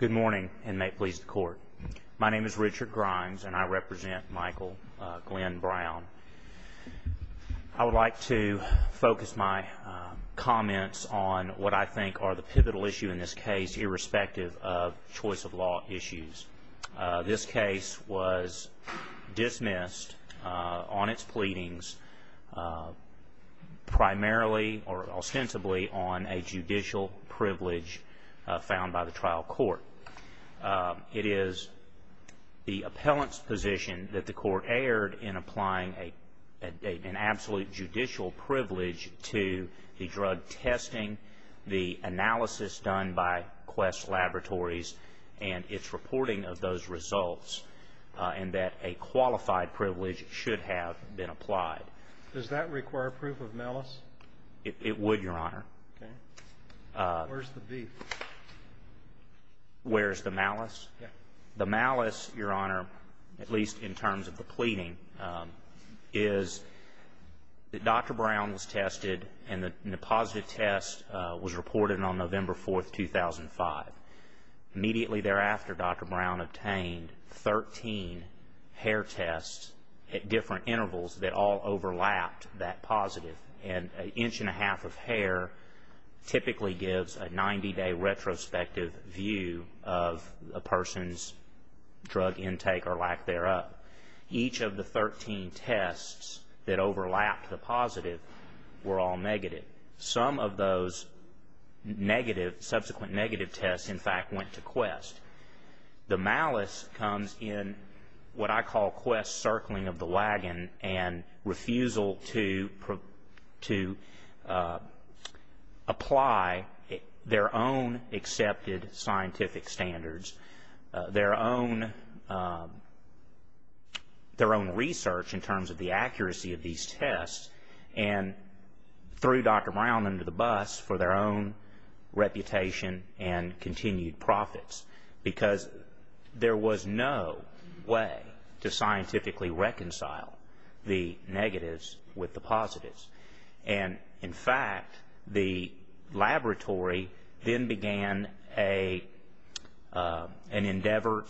Good morning and may it please the Court. My name is Richard Grimes and I represent Michael Glenn Brown. I would like to focus my comments on what I think are the pivotal issue in this case, irrespective of choice of law issues. This case was dismissed on its pleadings primarily or ostensibly on a judicial privilege found by the trial court. It is the appellant's position that the Court erred in applying an absolute judicial privilege to the drug testing, the analysis done by Quest Laboratories, and its reporting of those that have been applied. Does that require proof of malice? It would, Your Honor. Where's the beef? Where's the malice? The malice, Your Honor, at least in terms of the pleading, is that Dr. Brown was tested and the positive test was reported on November 4, 2005. Immediately thereafter, Dr. Brown obtained 13 hair tests at different intervals that all overlapped that positive. An inch and a half of hair typically gives a 90-day retrospective view of a person's drug intake or lack thereof. Each of the 13 tests that overlapped the positive were all negative. Some of those subsequent negative tests, in fact, went to Quest. The malice comes in what I call Quest's circling of the wagon and refusal to apply their own accepted scientific standards, their own research in terms of the accuracy of these tests, and threw Dr. Brown under the bus for their own reputation and continued profits because there was no way to scientifically reconcile the negatives with the positives. In fact, the laboratory then began an endeavor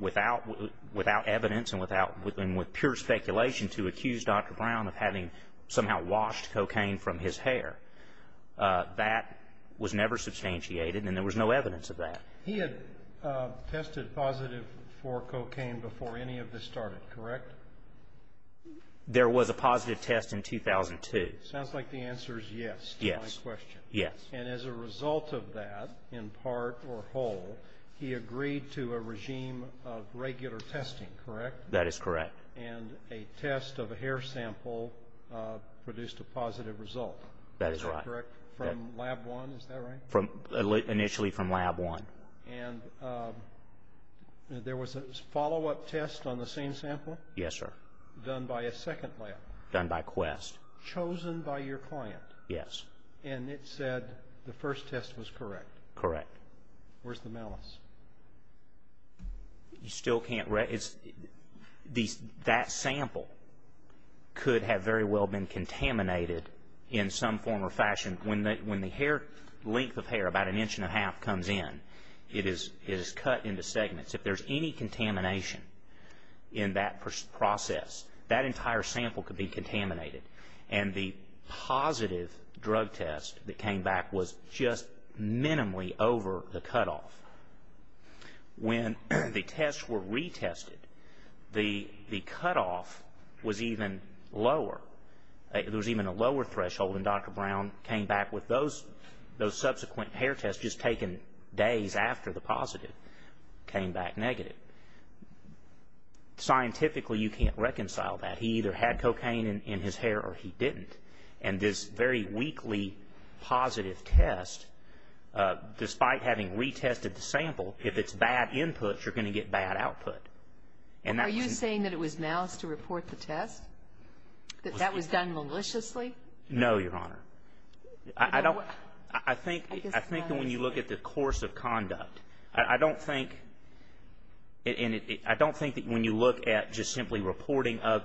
without evidence and with pure speculation to accuse Dr. Brown of somehow washing cocaine from his hair. That was never substantiated and there was no evidence of that. He had tested positive for cocaine before any of this started, correct? There was a positive test in 2002. Sounds like the answer is yes. Yes. And as a result of that, in part or whole, he produced a positive result. That is correct. From lab one, is that right? Initially from lab one. And there was a follow-up test on the same sample? Yes, sir. Done by a second lab? Done by Quest. Chosen by your client? Yes. And it said the first test was correct? Correct. Where's the malice? You still can't... That sample could have very well been contaminated in some form or fashion. When the length of hair, about an inch and a half, comes in, it is cut into segments. If there's any contamination in that process, that entire sample could be contaminated. And the positive drug test that came back was just minimally over the cutoff. When the tests were retested, the cutoff was even lower. There was even a lower threshold and Dr. Brown came back with those subsequent hair tests just taken days after the positive came back negative. Scientifically, you can't reconcile that. He either had cocaine in his hair or he didn't. And this very weakly positive test, despite having retested the sample, if it's bad input, you're going to get bad output. Are you saying that it was malice to report the test? That that was done maliciously? No, Your Honor. I think when you look at the course of the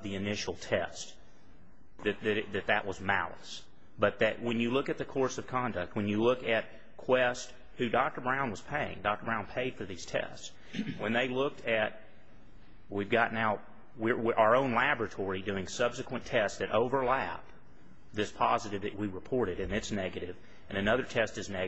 initial test, that that was malice. But when you look at the course of conduct, when you look at Quest, who Dr. Brown was paying, Dr. Brown paid for these tests, when they looked at... We've got now our own laboratory doing subsequent tests that overlap this positive that we reported, and it's negative, and another test is our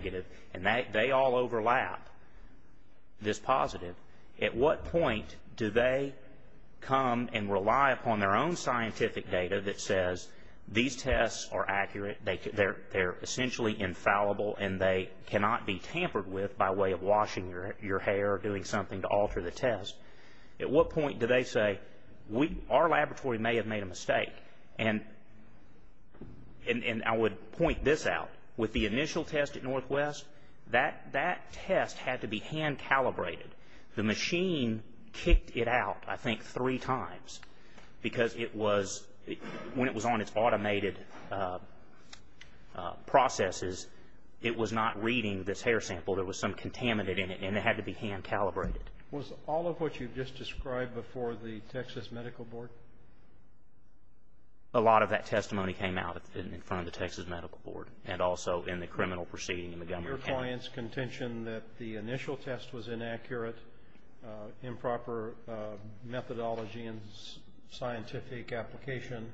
own scientific data that says these tests are accurate, they're essentially infallible, and they cannot be tampered with by way of washing your hair or doing something to alter the test. At what point do they say, our laboratory may have made a mistake? And I would point this out. With the initial test at Northwest, that test had to be When it was on its automated processes, it was not reading this hair sample. There was some contaminant in it, and it had to be hand calibrated. Was all of what you've just described before the Texas Medical Board? A lot of that testimony came out in front of the Texas Medical Board, and also in the criminal proceeding in Montgomery County. Your client's contention that the initial test was a mistake application,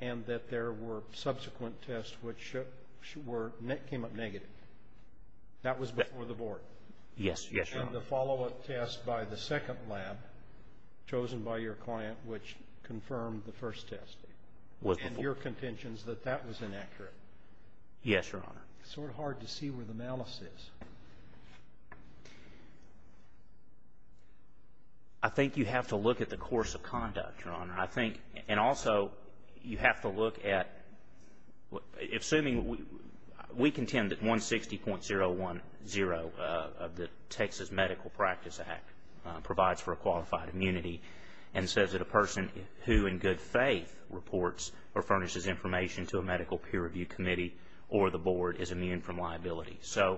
and that there were subsequent tests which came up negative. That was before the board? Yes, Your Honor. And the follow-up test by the second lab, chosen by your client, which confirmed the first test, and your contention is that that was inaccurate? Yes, Your Honor. Sort of hard to see where the malice is. I think you have to look at the course of conduct, Your Honor. I think, and also, you have to look at, assuming, we contend that 160.010 of the Texas Medical Practice Act provides for a qualified immunity, and says that a person who in good faith reports or furnishes information to a medical peer review committee or the board is have to be provided in good faith.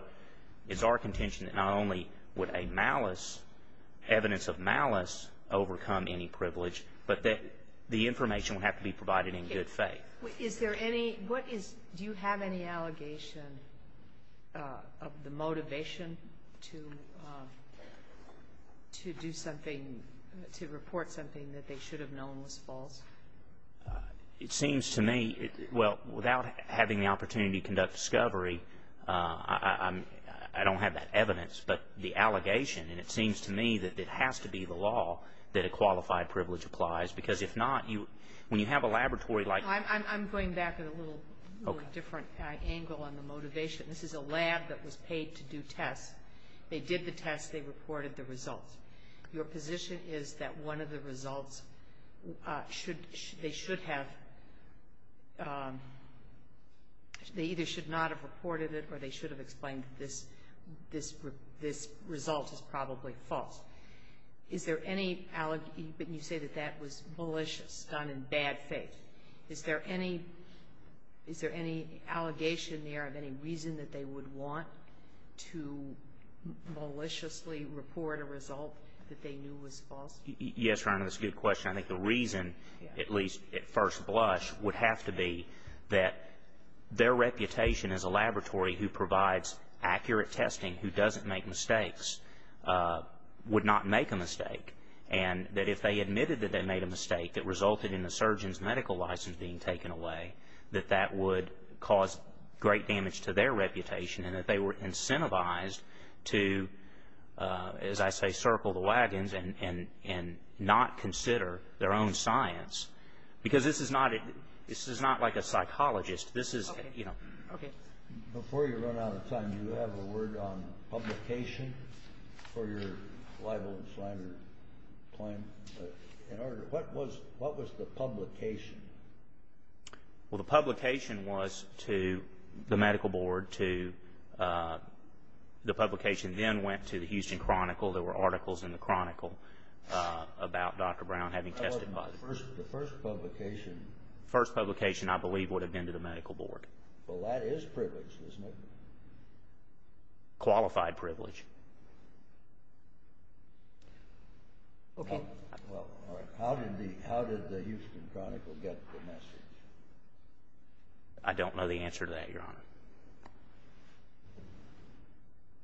Do you have any allegation of the motivation to report something that they should have known was false? It seems to me, well, without having the opportunity to conduct discovery, I don't have that evidence, but the allegation, and it has to be the law, that a qualified privilege applies, because if not, when you have a laboratory like... I'm going back at a little different angle on the motivation. This is a lab that was paid to do tests. They did the tests. They reported the results. Your position is that one of the results should, they should have, they either should not have reported it or they should have explained this result is probably false. Is there any, but you say that that was malicious, done in bad faith. Is there any, is there any allegation there of any reason that they would want to maliciously report a result that they knew was false? Yes, Your Honor, that's a good question. I think the reason, at least at first blush, would have to be that their reputation as a laboratory who provides accurate testing, who doesn't make mistakes, would not make a mistake, and that if they admitted that they made a mistake that resulted in a surgeon's medical license being taken away, that that would cause great damage to their reputation, and that they were incentivized to, as I say, circle the wagons and not consider their own science, because this is not, this is not like a psychologist. Before you run out of time, you have a word on publication for your libel and slander claim. In order to, what was, what was the publication? Well, the publication was to the medical board, to, the publication then went to the Houston Chronicle. There were articles in the Chronicle about Dr. Brown having been tested positive. The first publication, I believe, would have been to the medical board. Well, that is privilege, isn't it? Qualified privilege. Well, how did the Houston Chronicle get the message? I don't know the answer to that, Your Honor.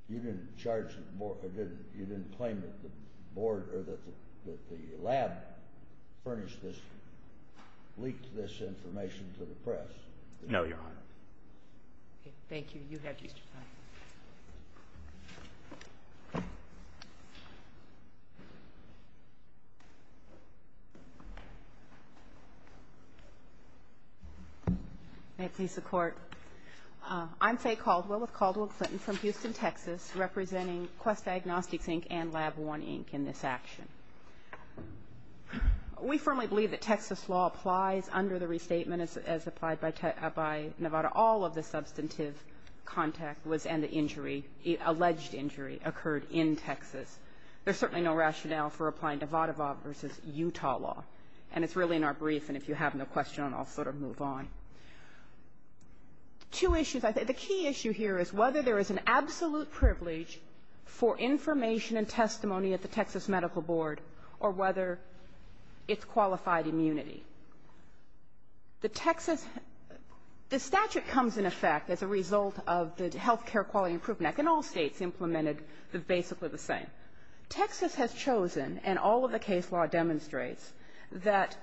You didn't charge the board, you didn't claim that the board or that the lab furnished this, leaked this information to the press? No, Your Honor. Okay. Thank you. You have just your time. May it please the Court. I'm Faye Caldwell with Caldwell Clinton from Houston, Texas, representing Quest Diagnostics, Inc. and Lab I, Inc. in this action. We firmly believe that Texas law applies under the restatement as applied by Nevada. All of the substantive contact was, and the injury, alleged injury, occurred in Texas. There's certainly no rationale for applying Nevada law versus Utah law. And it's really in our brief, and if you have no question, I'll sort of move on. Two issues. The key issue here is whether there is an absolute privilege for information and testimony at the Texas Medical Board or whether it's qualified immunity. The Texas — the statute comes into effect as a result of the healthcare quality improvement act. In all states implemented, it's basically the same. Texas has chosen, and all of the case law demonstrates, that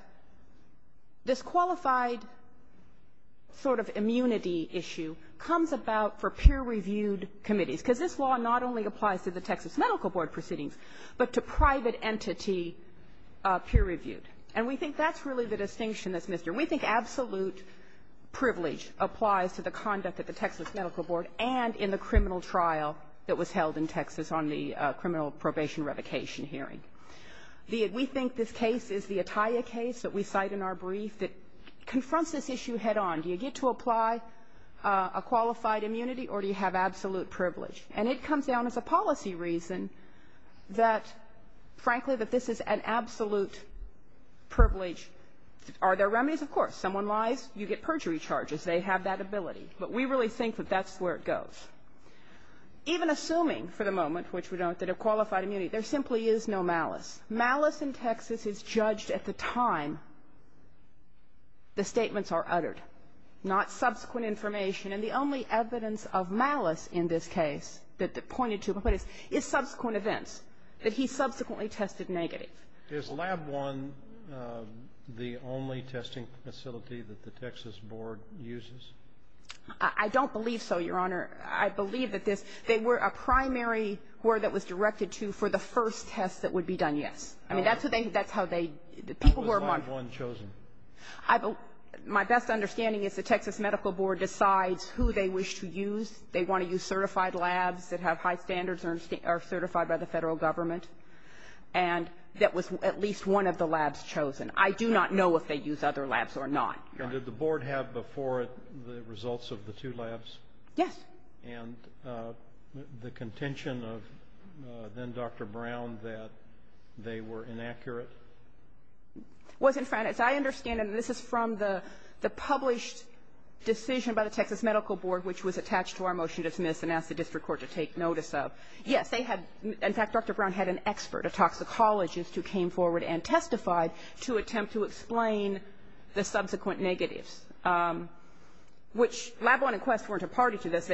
this qualified sort of immunity issue comes about for peer-reviewed committees. Because this law not only applies to the Texas Medical Board proceedings, but to private entity peer-reviewed. And we think that's really the distinction that's missed here. We think absolute privilege applies to the conduct at the Texas Medical Board and in the criminal trial that was held in Texas on the criminal probation revocation hearing. We think this case is the Atiyah case that we cite in our brief that confronts this issue head-on. Do you get to apply a qualified immunity, or do you have absolute privilege? And it comes down as a policy reason that, frankly, that this is an absolute privilege. Are there remedies? Of course. Someone lies, you get perjury charges. They have that ability. But we really think that that's where it goes. Even assuming for the moment, which we don't, that a qualified immunity, there simply is no malice. Malice in Texas is judged at the time the statements are uttered, not subsequent information. And the only evidence of malice in this case that pointed to is subsequent events, that he subsequently tested negative. Is Lab I the only testing facility that the Texas Board uses? I don't believe so, Your Honor. I believe that this they were a primary where that was directed to for the first test that would be done, yes. I mean, that's how they the people who are marked. How was Lab I chosen? My best understanding is the Texas Medical Board decides who they wish to use. They want to use certified labs that have high standards or are certified by the Federal Government. And that was at least one of the labs chosen. I do not know if they use other labs or not. And did the Board have before it the results of the two labs? Yes. And the contention of then-Dr. Brown that they were inaccurate? It wasn't fine. As I understand it, and this is from the published decision by the Texas Medical Board, which was attached to our motion to dismiss and ask the district court to take notice of. Yes, they had, in fact, Dr. Brown had an expert, a toxicologist, who came forward and testified to attempt to explain the subsequent negatives, which Lab I and Quest weren't a party to this.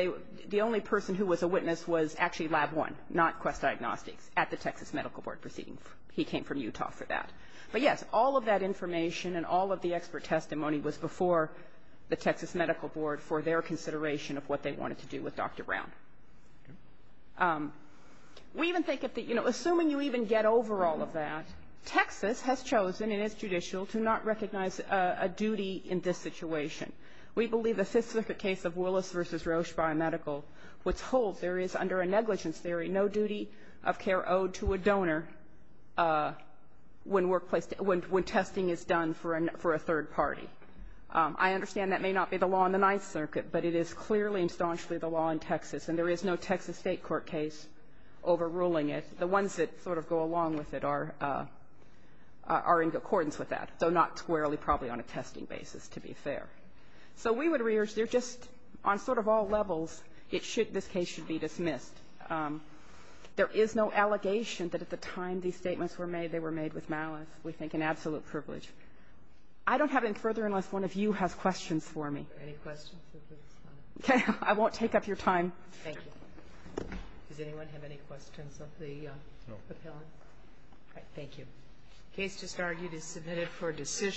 The only person who was a witness was actually Lab I, not Quest Diagnostics, at the Texas Medical Board proceeding. He came from Utah for that. But, yes, all of that information and all of the expert testimony was before the Texas Medical Board for their consideration of what they wanted to do with Dr. Brown. We even think that, you know, assuming you even get over all of that, Texas has chosen in its judicial to not recognize a duty in this situation. We believe the specific case of Willis v. Roche Biomedical, which holds there is under a negligence theory no duty of care owed to a donor when workplace – when testing is done for a third party. I understand that may not be the law in the Ninth Circuit, but it is clearly and staunchly the law in Texas, and there is no Texas state court case overruling it. The ones that sort of go along with it are in accordance with that, though not squarely probably on a testing basis, to be fair. So we would urge there just on sort of all levels it should – this case should be dismissed. There is no allegation that at the time these statements were made, they were made with malice. We think an absolute privilege. I don't have any further unless one of you has questions for me. Any questions? I won't take up your time. Thank you. Does anyone have any questions of the appellant? No. Thank you. The case just argued is submitted for decision.